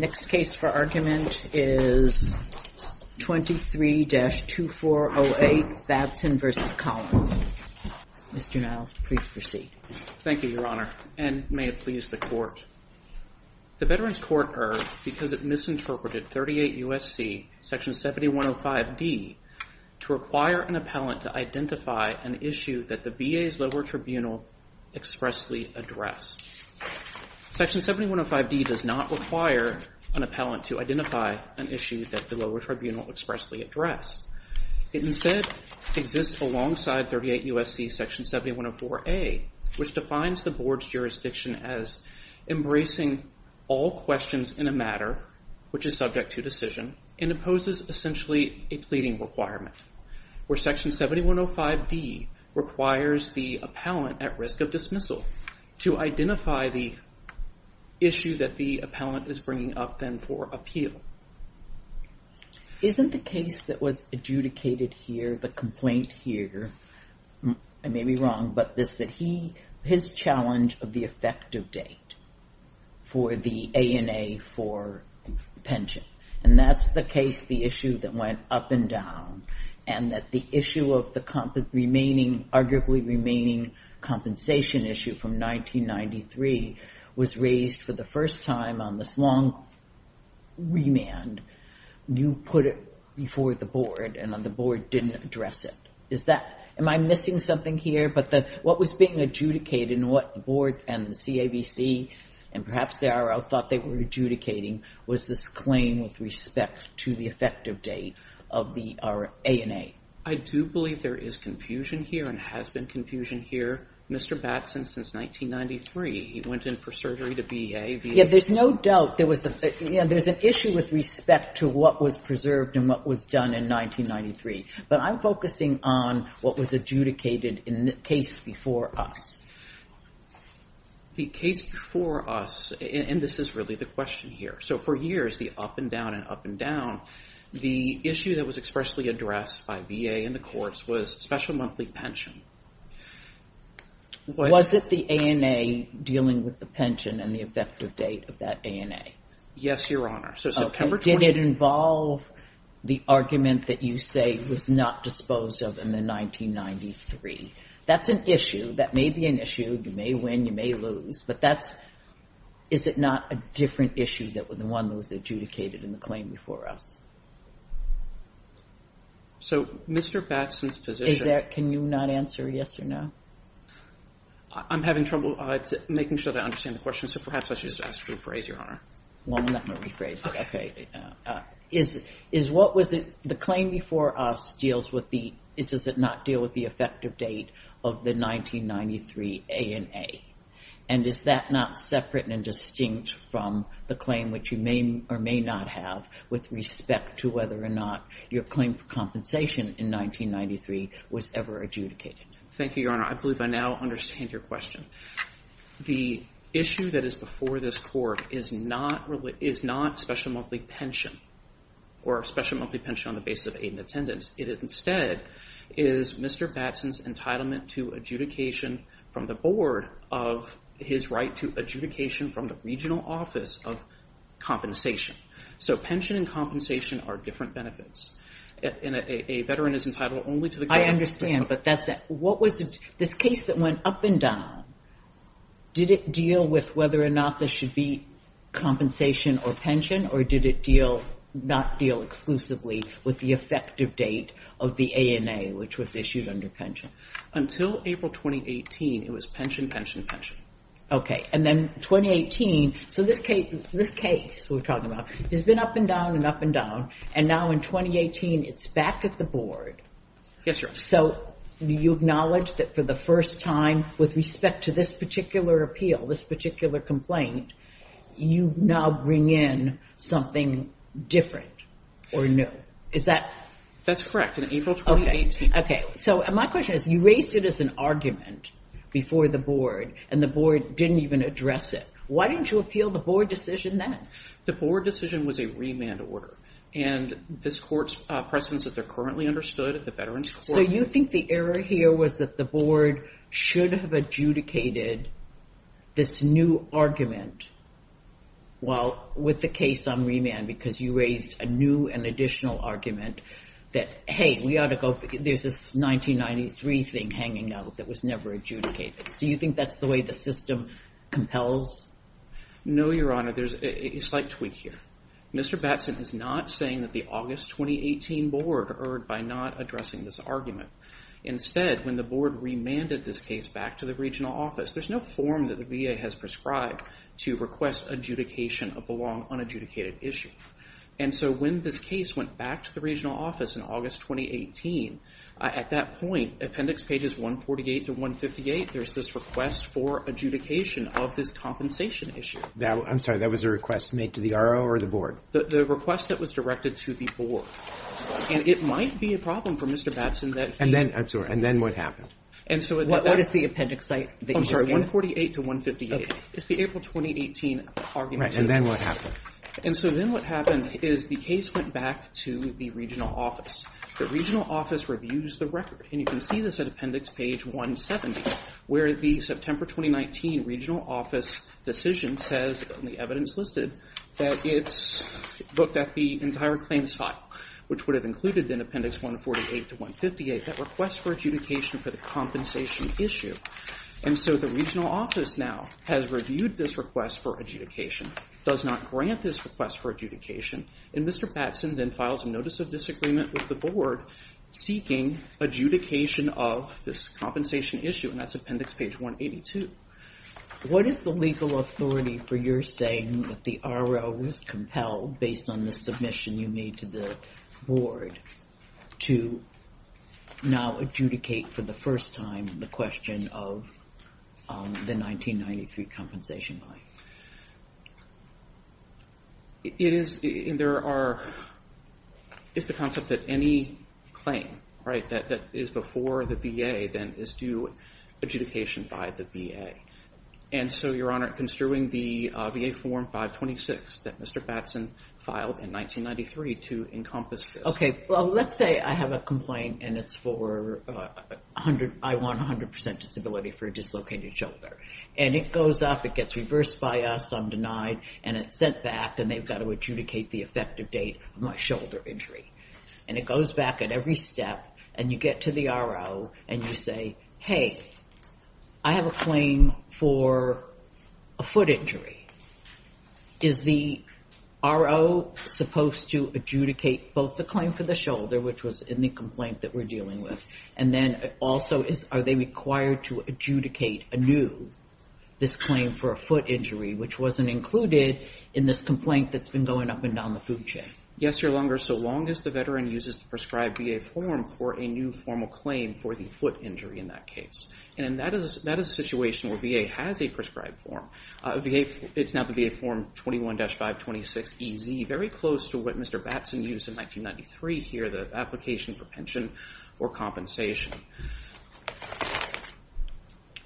The next case for argument is 23-2408 Batson v. Collins. Mr. Niles, please proceed. Thank you, Your Honor, and may it please the Court. The Veterans Court urged, because it misinterpreted 38 U.S.C. Section 7105d, to require an appellant to identify an issue that the VA's lower tribunal expressly addressed. Section 7105d does not require an appellant to identify an issue that the lower tribunal expressly addressed. It instead exists alongside 38 U.S.C. Section 7104a, which defines the Board's jurisdiction as embracing all questions in a matter which is subject to decision and imposes essentially a pleading requirement, where Section 7105d requires the appellant at risk of dismissal to identify the issue that the appellant is bringing up then for appeal. Isn't the case that was adjudicated here, the complaint here, I may be wrong, but his challenge of the effective date for the ANA for pension, and that's the case, the issue that went up and down, and that the issue of the arguably remaining compensation issue from 1993 was raised for the first time on this long remand, you put it before the Board and the Board didn't address it. Am I missing something here? What was being adjudicated and what the Board and the CAVC, and perhaps the IRL thought they were adjudicating, was this claim with respect to the effective date of the ANA? I do believe there is confusion here and has been confusion here. Mr. Batson, since 1993, he went in for surgery to be a VA. There's no doubt, there was an issue with respect to what was preserved and what was done in 1993, but I'm focusing on what was adjudicated in the case before us. The case before us, and this is really the question here, so for years, the up and down and up and down, the issue that was expressly addressed by VA and the courts was special monthly pension. Was it the ANA dealing with the pension and the effective date of that ANA? Yes, Your Honor. So September 20th. Did it involve the argument that you say was not disposed of in the 1993? That's an issue. That may be an issue. You may win, you may lose, but is it not a different issue than the one that was adjudicated in the claim before us? So Mr. Batson's position... Can you not answer yes or no? I'm having trouble making sure that I understand the question, so perhaps I should just ask to rephrase, Your Honor. Well, I'm not going to rephrase it. Okay. Is what was it... The claim before us deals with the... Does it not deal with the effective date of the 1993 ANA? And is that not separate and distinct from the claim which you may or may not have with respect to whether or not your claim for compensation in 1993 was ever adjudicated? Thank you, Your Honor. I believe I now understand your question. The issue that is before this court is not special monthly pension or special monthly pension on the basis of aid and attendance. It is instead, is Mr. Batson's entitlement to adjudication from the board of his right to adjudication from the regional office of compensation. So pension and compensation are different benefits, and a veteran is entitled only to the... I understand, but that's... What was... This case that went up and down, did it deal with whether or not there should be compensation or pension, or did it not deal exclusively with the effective date of the ANA, which was issued under pension? Until April 2018, it was pension, pension, pension. Okay. And then 2018... So this case we're talking about has been up and down and up and down, and now in 2018, it's back at the board. Yes, Your Honor. So you acknowledge that for the first time, with respect to this particular appeal, this particular complaint, you now bring in something different or new. Is that... That's correct. In April 2018... Okay. So my question is, you raised it as an argument before the board, and the board didn't even address it. Why didn't you appeal the board decision then? The board decision was a remand order, and this court's presence that they're currently So you think the error here was that the board should have adjudicated this new argument while... With the case on remand, because you raised a new and additional argument that, hey, we ought to go... There's this 1993 thing hanging out that was never adjudicated. So you think that's the way the system compels? No, Your Honor. There's a slight tweak here. Mr. Batson is not saying that the August 2018 board erred by not addressing this argument. Instead, when the board remanded this case back to the regional office, there's no form that the VA has prescribed to request adjudication of the long unadjudicated issue. And so when this case went back to the regional office in August 2018, at that point, appendix pages 148 to 158, there's this request for adjudication of this compensation issue. I'm sorry, that was a request made to the RO or the board? The request that was directed to the board. And it might be a problem for Mr. Batson that he... And then, I'm sorry. And then what happened? And so... What is the appendix that you just gave? I'm sorry, 148 to 158. Okay. It's the April 2018 argument. Right. And then what happened? And so then what happened is the case went back to the regional office. The regional office reviews the record, and you can see this at appendix page 170, where the September 2019 regional office decision says, and the evidence listed, that it's looked at the entire claims file, which would have included in appendix 148 to 158, that request for adjudication for the compensation issue. And so the regional office now has reviewed this request for adjudication, does not grant this request for adjudication, and Mr. Batson then files a notice of disagreement with the page 182. What is the legal authority for your saying that the RO was compelled, based on the submission you made to the board, to now adjudicate for the first time the question of the 1993 compensation line? It is... And there are... It's the concept that any claim, right, that is before the VA, then, is due adjudication by the VA. And so, Your Honor, construing the VA form 526 that Mr. Batson filed in 1993 to encompass this... Okay. Well, let's say I have a complaint, and it's for 100... I want 100% disability for a dislocated shoulder. And it goes up, it gets reversed by us, I'm denied, and it's sent back, and they've got to adjudicate the effective date of my shoulder injury. And it goes back at every step, and you get to the RO, and you say, hey, I have a claim for a foot injury. Is the RO supposed to adjudicate both the claim for the shoulder, which was in the complaint that we're dealing with, and then also, are they required to adjudicate anew this claim for a foot injury, which wasn't included in this complaint that's been going up and down the food chain? Yes, Your Honor. It's no longer, so long as the veteran uses the prescribed VA form for a new formal claim for the foot injury in that case. And that is a situation where VA has a prescribed form. It's now the VA form 21-526EZ, very close to what Mr. Batson used in 1993 here, the application for pension or compensation.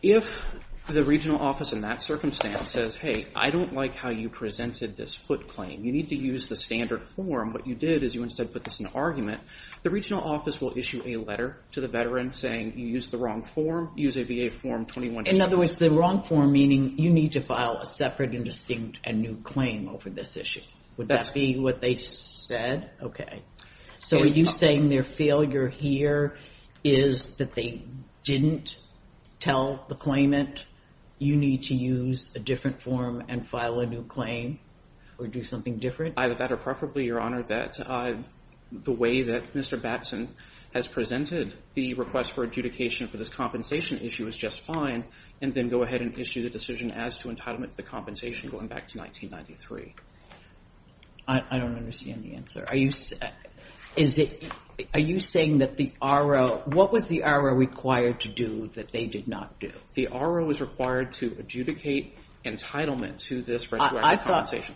If the regional office in that circumstance says, hey, I don't like how you presented this foot claim. You need to use the standard form. What you did is you instead put this in an argument. The regional office will issue a letter to the veteran saying, you used the wrong form. Use a VA form 21-526EZ. In other words, the wrong form meaning you need to file a separate and distinct and new claim over this issue. Would that be what they said? So, are you saying their failure here is that they didn't tell the claimant, you need to use a different form and file a new claim or do something different? Either that or preferably, Your Honor, that the way that Mr. Batson has presented the request for adjudication for this compensation issue is just fine and then go ahead and issue the decision as to entitlement to the compensation going back to 1993. I don't understand the answer. Are you saying that the RO, what was the RO required to do that they did not do? The RO is required to adjudicate entitlement to this retroactive compensation. I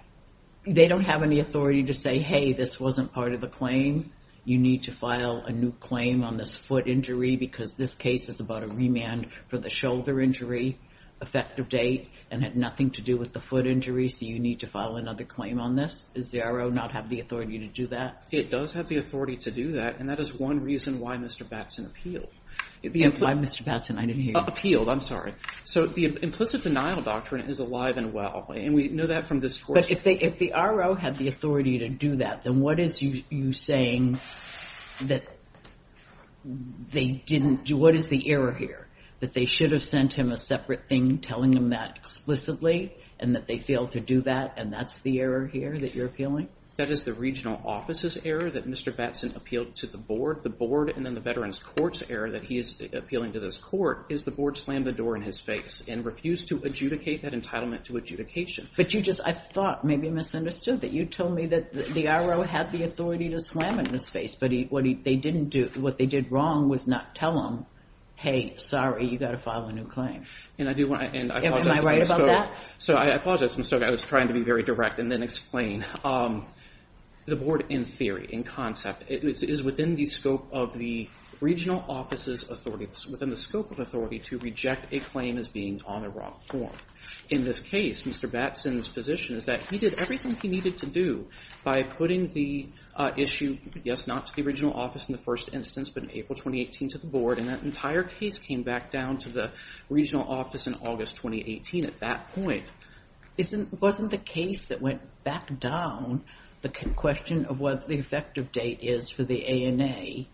thought they don't have any authority to say, hey, this wasn't part of the claim. You need to file a new claim on this foot injury because this case is about a remand for the shoulder injury, effective date, and had nothing to do with the foot injury so you need to file another claim on this. Does the RO not have the authority to do that? It does have the authority to do that and that is one reason why Mr. Batson appealed. Why Mr. Batson? I didn't hear you. Appealed. I'm sorry. So the implicit denial doctrine is alive and well and we know that from this course. But if the RO had the authority to do that, then what is you saying that they didn't do? What is the error here? That they should have sent him a separate thing telling him that explicitly and that they failed to do that and that's the error here that you're appealing? That is the regional office's error that Mr. Batson appealed to the board. The board and then the veterans court's error that he is appealing to this court is the board slammed the door in his face and refused to adjudicate that entitlement to adjudication. But you just, I thought, maybe misunderstood that you told me that the RO had the authority to slam it in his face but what they did wrong was not tell him, hey, sorry, you got to file a new claim. Am I right about that? So I apologize. I was trying to be very direct and then explain. The board in theory, in concept, is within the scope of the regional office's authority, within the scope of authority to reject a claim as being on the ROC form. In this case, Mr. Batson's position is that he did everything he needed to do by putting the issue, yes, not to the regional office in the first instance, but in April 2018 to the board and that entire case came back down to the regional office in August 2018 at that point. Isn't, wasn't the case that went back down the question of what the effective date is for the ANA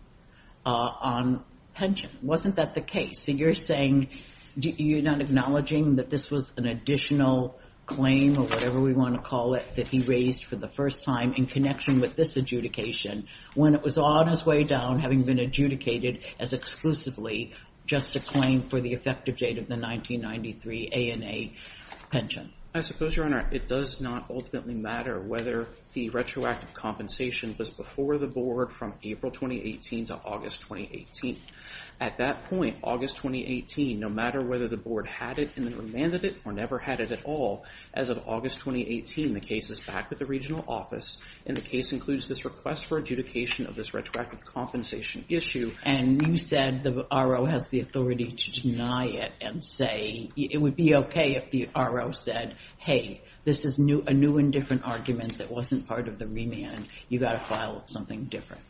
on pension? Wasn't that the case? So you're saying, you're not acknowledging that this was an additional claim or whatever we want to call it that he raised for the first time in connection with this adjudication when it was on its way down having been adjudicated as exclusively just a claim for the effective date of the 1993 ANA pension? I suppose, Your Honor, it does not ultimately matter whether the retroactive compensation was before the board from April 2018 to August 2018. At that point, August 2018, no matter whether the board had it and then remanded it or never had it at all, as of August 2018, the case is back with the regional office and the case includes this request for adjudication of this retroactive compensation issue. And you said the RO has the authority to deny it and say it would be okay if the RO said, hey, this is a new and different argument that wasn't part of the remand. You got to file something different.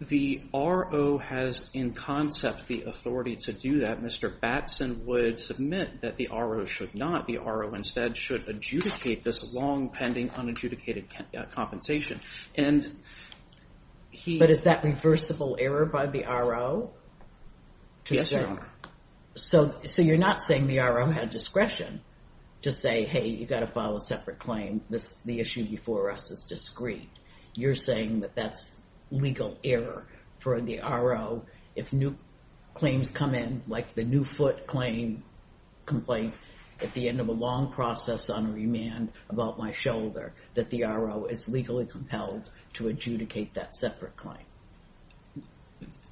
The RO has in concept the authority to do that. Mr. Batson would submit that the RO should not, the RO instead should adjudicate this long pending unadjudicated compensation. But is that reversible error by the RO? Yes, Your Honor. So you're not saying the RO had discretion to say, hey, you got to file a separate claim. The issue before us is discreet. You're saying that that's legal error for the RO if new claims come in, like the new foot claim complaint at the end of a long process on remand about my shoulder, that the RO is legally compelled to adjudicate that separate claim.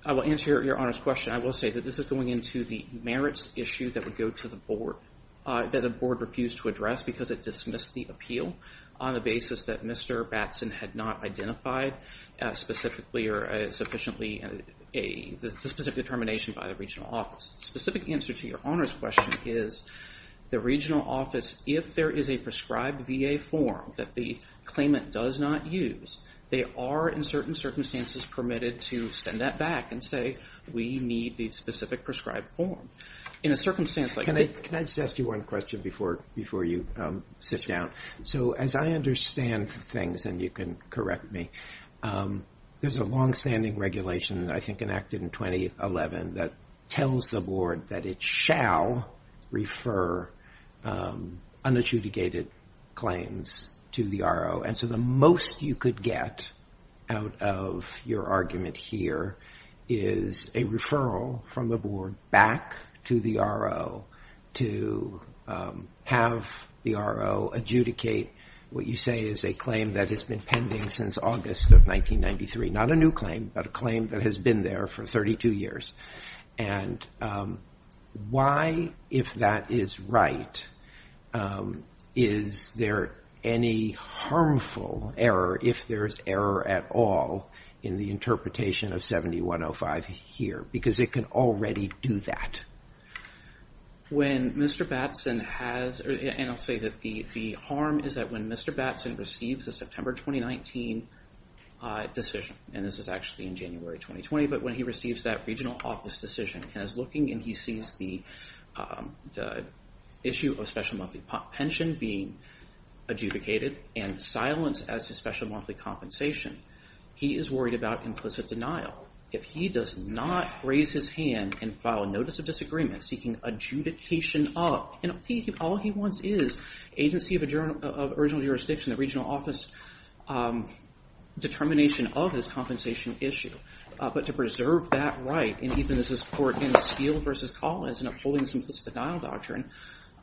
I will answer Your Honor's question. I will say that this is going into the merits issue that would go to the board, that the board refused to address because it dismissed the appeal on the basis that Mr. Batson had not identified specifically or sufficiently the specific determination by the regional office. The specific answer to Your Honor's question is the regional office, if there is a prescribed VA form that the claimant does not use, they are in certain circumstances permitted to send that back and say, we need the specific prescribed form. In a circumstance like that... Can I just ask you one question before you sit down? So as I understand things, and you can correct me, there's a longstanding regulation, I think enacted in 2011, that tells the board that it shall refer unadjudicated claims to the RO. And so the most you could get out of your argument here is a referral from the board back to the RO to have the RO adjudicate what you say is a claim that has been pending since August of 1993. Not a new claim, but a claim that has been there for 32 years. And why, if that is right, is there any harmful error, if there's error at all, in the interpretation of 7105 here? Because it can already do that. When Mr. Batson has, and I'll say that the harm is that when Mr. Batson receives the September 2019 decision, and this is actually in January 2020, but when he receives that regional office decision, and is looking and he sees the issue of special monthly pension being adjudicated and silenced as to special monthly compensation, he is worried about implicit denial. If he does not raise his hand and file a notice of disagreement seeking adjudication of, and all he wants is agency of original jurisdiction, the regional office determination of his compensation issue. But to preserve that right, and even as this court in Steele v. Collins in upholding some implicit denial doctrine,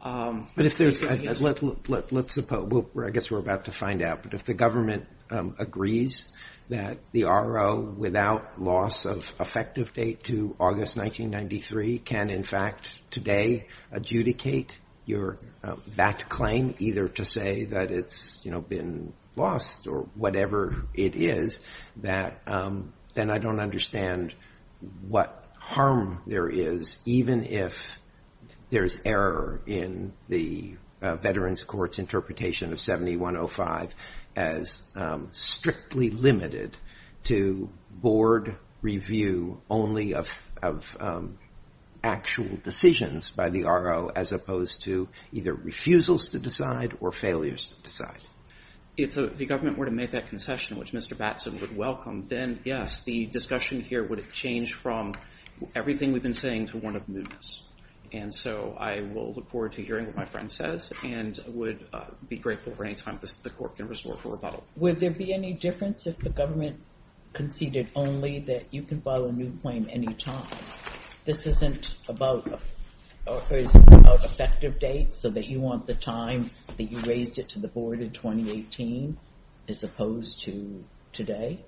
there's an issue. But if there's, let's suppose, I guess we're about to find out, but if the government agrees that the RO, without loss of effective date to August 1993, can in fact today adjudicate that claim, either to say that it's been lost or whatever it is, then I don't understand what harm there is, even if there's error in the veterans courts interpretation of 7105 as strictly limited to board review only of actual decisions by the RO as opposed to either refusals to decide or failures to decide. If the government were to make that concession, which Mr. Batson would welcome, then yes, the discussion here would change from everything we've been saying to one of mootness. And so I will look forward to hearing what my friend says, and would be grateful for any time the court can restore for rebuttal. Would there be any difference if the government conceded only that you can file a new claim any time? This isn't about effective date, so that you want the time that you raised it to the board in 2018 as opposed to today?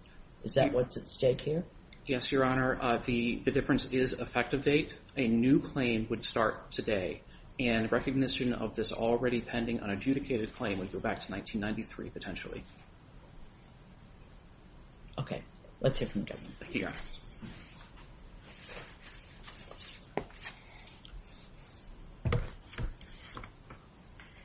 Is that what's at stake here? Yes, Your Honor. The difference is effective date. A new claim would start today, and recognition of this already pending unadjudicated claim would go back to 1993, potentially. Okay. Let's hear from the judge. Thank you, Your Honor.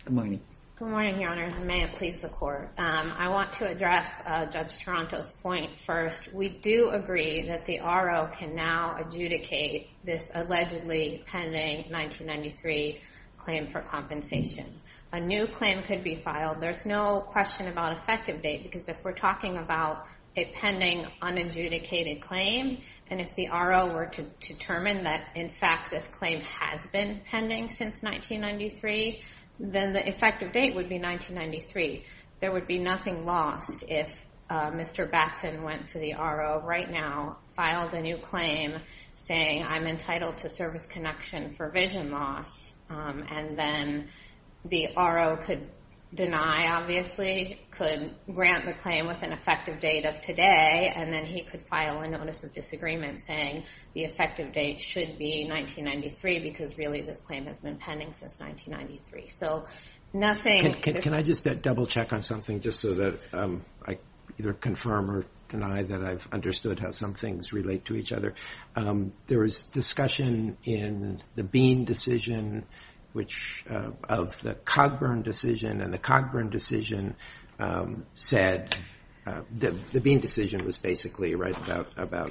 Good morning. Good morning, Your Honor. May it please the court. I want to address Judge Toronto's point first. We do agree that the RO can now adjudicate this allegedly pending 1993 claim for compensation. A new claim could be filed. There's no question about effective date, because if we're talking about a pending unadjudicated claim, and if the RO were to determine that, in fact, this claim has been pending since 1993, then the effective date would be 1993. There would be nothing lost if Mr. Batten went to the RO right now, filed a new claim saying, I'm entitled to service connection for vision loss, and then the RO could deny, obviously, could grant the claim with an effective date of today, and then he could file a notice of disagreement saying the effective date should be 1993, because really this claim has been pending since 1993. So nothing- Can I just double check on something, just so that I either confirm or deny that I've understood how some things relate to each other. There was discussion in the Bean decision of the Cogburn decision, and the Cogburn decision said, the Bean decision was basically about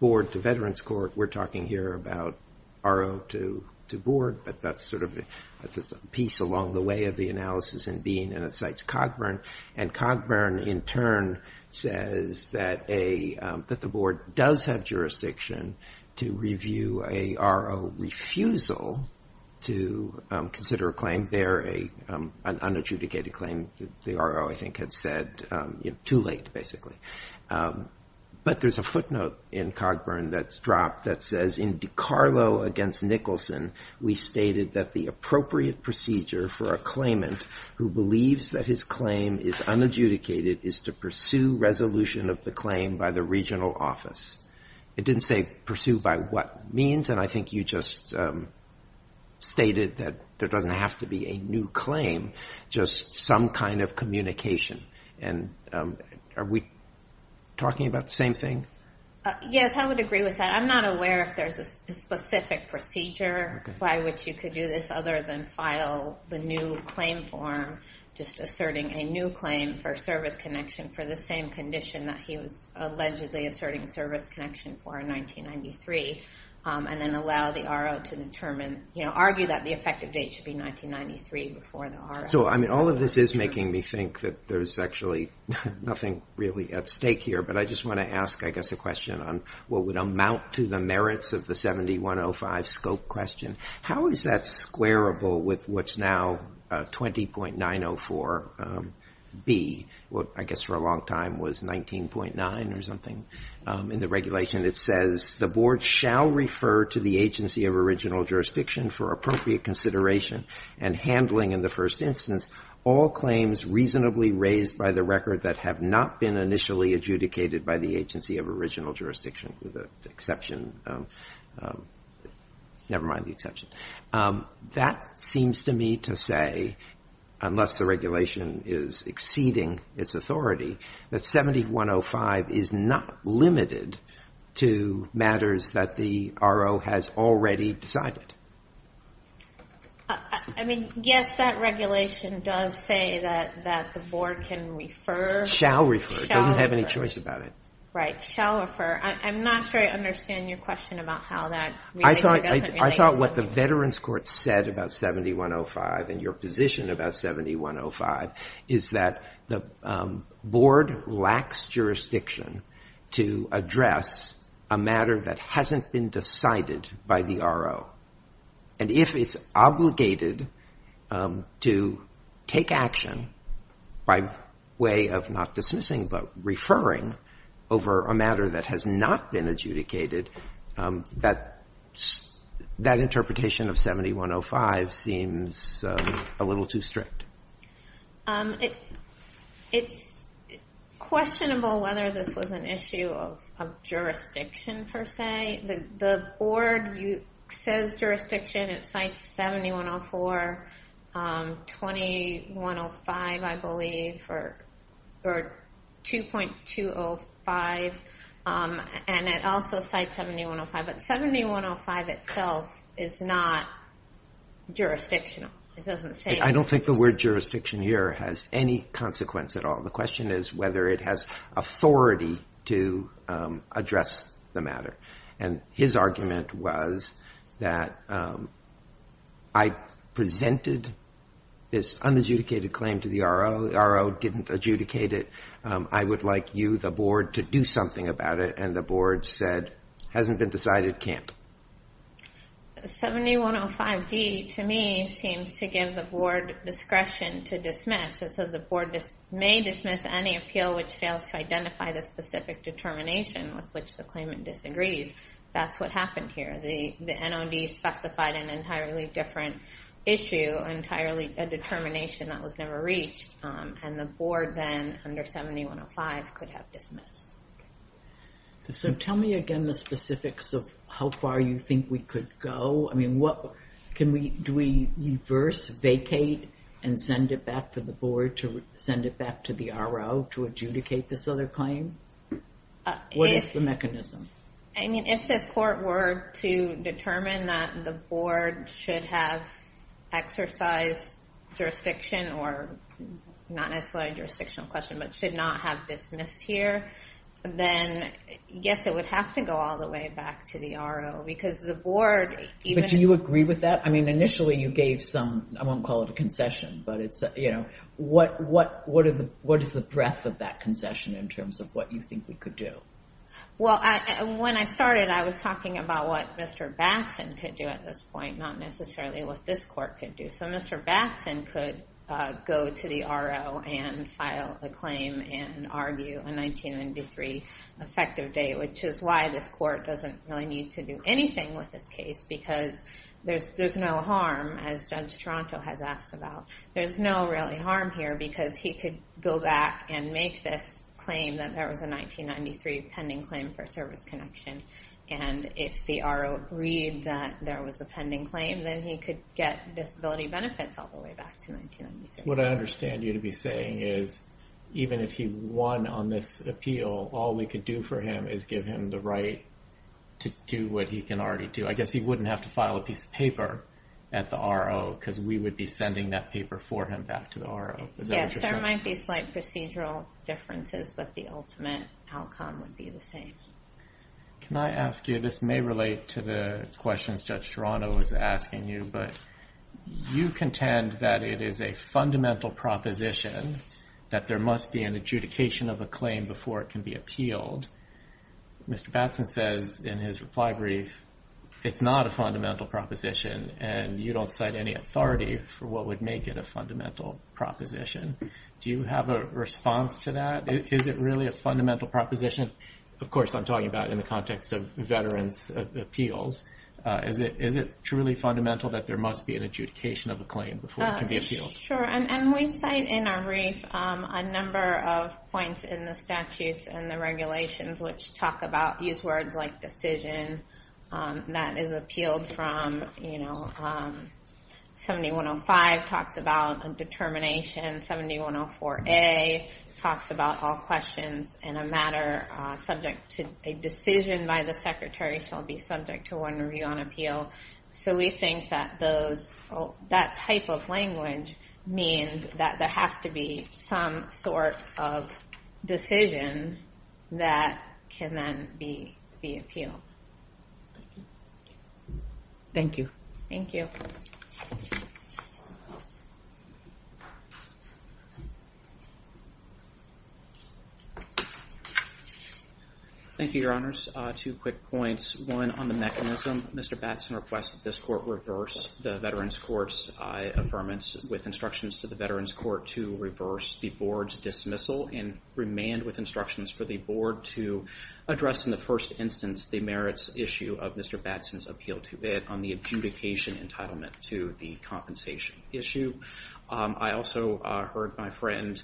board to veterans court. We're talking here about RO to board, but that's a piece along the way of the analysis in Bean, and it cites Cogburn. And Cogburn, in turn, says that the board does have jurisdiction to review a RO refusal to consider a claim there, an unadjudicated claim the RO, I think, had said too late, basically. But there's a footnote in Cogburn that's dropped that says, in DiCarlo against Nicholson, we stated that the appropriate procedure for a claimant who believes that his claim is unadjudicated is to pursue resolution of the claim by the regional office. It didn't say pursue by what means, and I think you just stated that there doesn't have to be a new claim, just some kind of communication. And are we talking about the same thing? Yes, I would agree with that. I'm not aware if there's a specific procedure by which you could do this, other than file the new claim form, just asserting a new claim for service connection for the same condition that he was allegedly asserting service connection for in 1993, and then allow the RO to argue that the effective date should be 1993 before the RO. So all of this is making me think that there's actually nothing really at stake here, but I just want to ask, I guess, a question on what would amount to the merits of the 7105 scope question. How is that squarable with what's now 20.904B, what I guess for a long time was 19.9 or something in the regulation? It says, the board shall refer to the agency of original jurisdiction for appropriate consideration and handling in the first instance all claims reasonably raised by the record that have not been initially adjudicated by the agency of original jurisdiction, with the exception, never mind the exception. That seems to me to say, unless the regulation is exceeding its authority, that 7105 is not limited to matters that the RO has already decided. I mean, yes, that regulation does say that the board can refer. Shall refer. Doesn't have any choice about it. Right. Shall refer. I'm not sure I understand your question about how that relates. I thought what the Veterans Court said about 7105 and your position about 7105 is that the board lacks jurisdiction to address a matter that hasn't been decided by the RO. And if it's obligated to take action by way of not dismissing but referring over a matter that has not been adjudicated, that interpretation of 7105 seems a little too strict. It's questionable whether this was an issue of jurisdiction per se. The board says jurisdiction. It cites 7104. 2105, I believe, or 2.205. And it also cites 7105. But 7105 itself is not jurisdictional. I don't think the word jurisdiction here has any consequence at all. The question is whether it has authority to address the matter. And his argument was that I presented this unadjudicated claim to the RO. The RO didn't adjudicate it. I would like you, the board, to do something about it. And the board said, hasn't been decided, can't. 7105D, to me, seems to give the board discretion to dismiss. It says the board may dismiss any appeal which fails to identify the specific determination with which the claimant disagrees. That's what happened here. The NOD specified an entirely different issue, entirely a determination that was never reached. And the board then, under 7105, could have dismissed. So tell me, again, the specifics of how far you think we could go. I mean, do we reverse, vacate, and send it back to the board to send it back to the RO to adjudicate this other claim? What is the mechanism? I mean, if this court were to determine that the board should have exercised jurisdiction or, not necessarily a jurisdictional question, but should not have dismissed here, then, yes, it would have to go all the way back to the RO because the board... But do you agree with that? I mean, initially, you gave some, I won't call it a concession, but it's, you know, what is the breadth of that concession in terms of what you think we could do? Well, when I started, I was talking about what Mr. Batson could do at this point, not necessarily what this court could do. So Mr. Batson could go to the RO and file a claim and argue a 1993 effective date, which is why this court doesn't really need to do anything with this case because there's no harm, as Judge Toronto has asked about. There's no really harm here because he could go back and make this claim that there was a 1993 pending claim for service connection. And if the RO agreed that there was a pending claim, then he could get disability benefits all the way back to 1993. What I understand you to be saying is even if he won on this appeal, all we could do for him is give him the right to do what he can already do. I guess he wouldn't have to file a piece of paper at the RO because we would be sending that paper for him back to the RO. Yes, there might be slight procedural differences, but the ultimate outcome would be the same. Can I ask you, this may relate to the questions Judge Toronto was asking you, but you contend that it is a fundamental proposition that there must be an adjudication of a claim before it can be appealed. Mr. Batson says in his reply brief, it's not a fundamental proposition, and you don't cite any authority for what would make it a fundamental proposition. Do you have a response to that? Is it really a fundamental proposition? Of course, I'm talking about in the context of veterans' appeals. Is it truly fundamental that there must be an adjudication of a claim before it can be appealed? Sure, and we cite in our brief a number of points in the statutes and the regulations which talk about these words like decision that is appealed from 7105 talks about a determination, 7104A talks about all questions in a matter subject to a decision by the secretary shall be subject to one review on appeal. So we think that that type of language means that there has to be some sort of decision that can then be appealed. Thank you. Thank you. Thank you, Your Honors. Two quick points, one on the mechanism. Mr. Batson requests that this court reverse the veterans' court's by affirmance with instructions to the veterans' court to reverse the board's dismissal and remand with instructions for the board to address in the first instance the merits issue of Mr. Batson's appeal to it on the adjudication entitlement to the compensation issue. I also heard my friend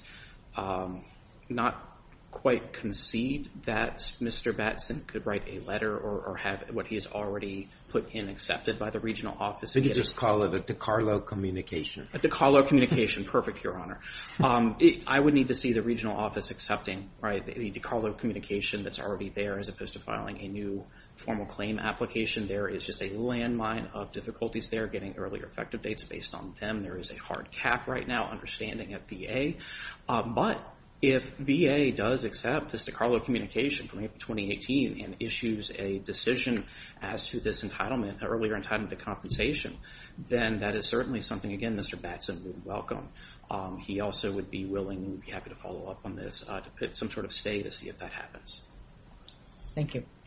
not quite concede that Mr. Batson could write a letter or have what he has already put in accepted by the regional office. You could just call it a decarlo communication. A decarlo communication. Perfect, Your Honor. I would need to see the regional office accepting the decarlo communication that's already there as opposed to filing a new formal claim application. There is just a landmine of difficulties there, getting earlier effective dates based on them. There is a hard cap right now, understanding of VA. But if VA does accept this decarlo communication from April 2018 and issues a decision as to this earlier entitlement to compensation, then that is certainly something, again, Mr. Batson would welcome. He also would be willing and be happy to follow up on this to put some sort of stay to see if that happens. Thank you.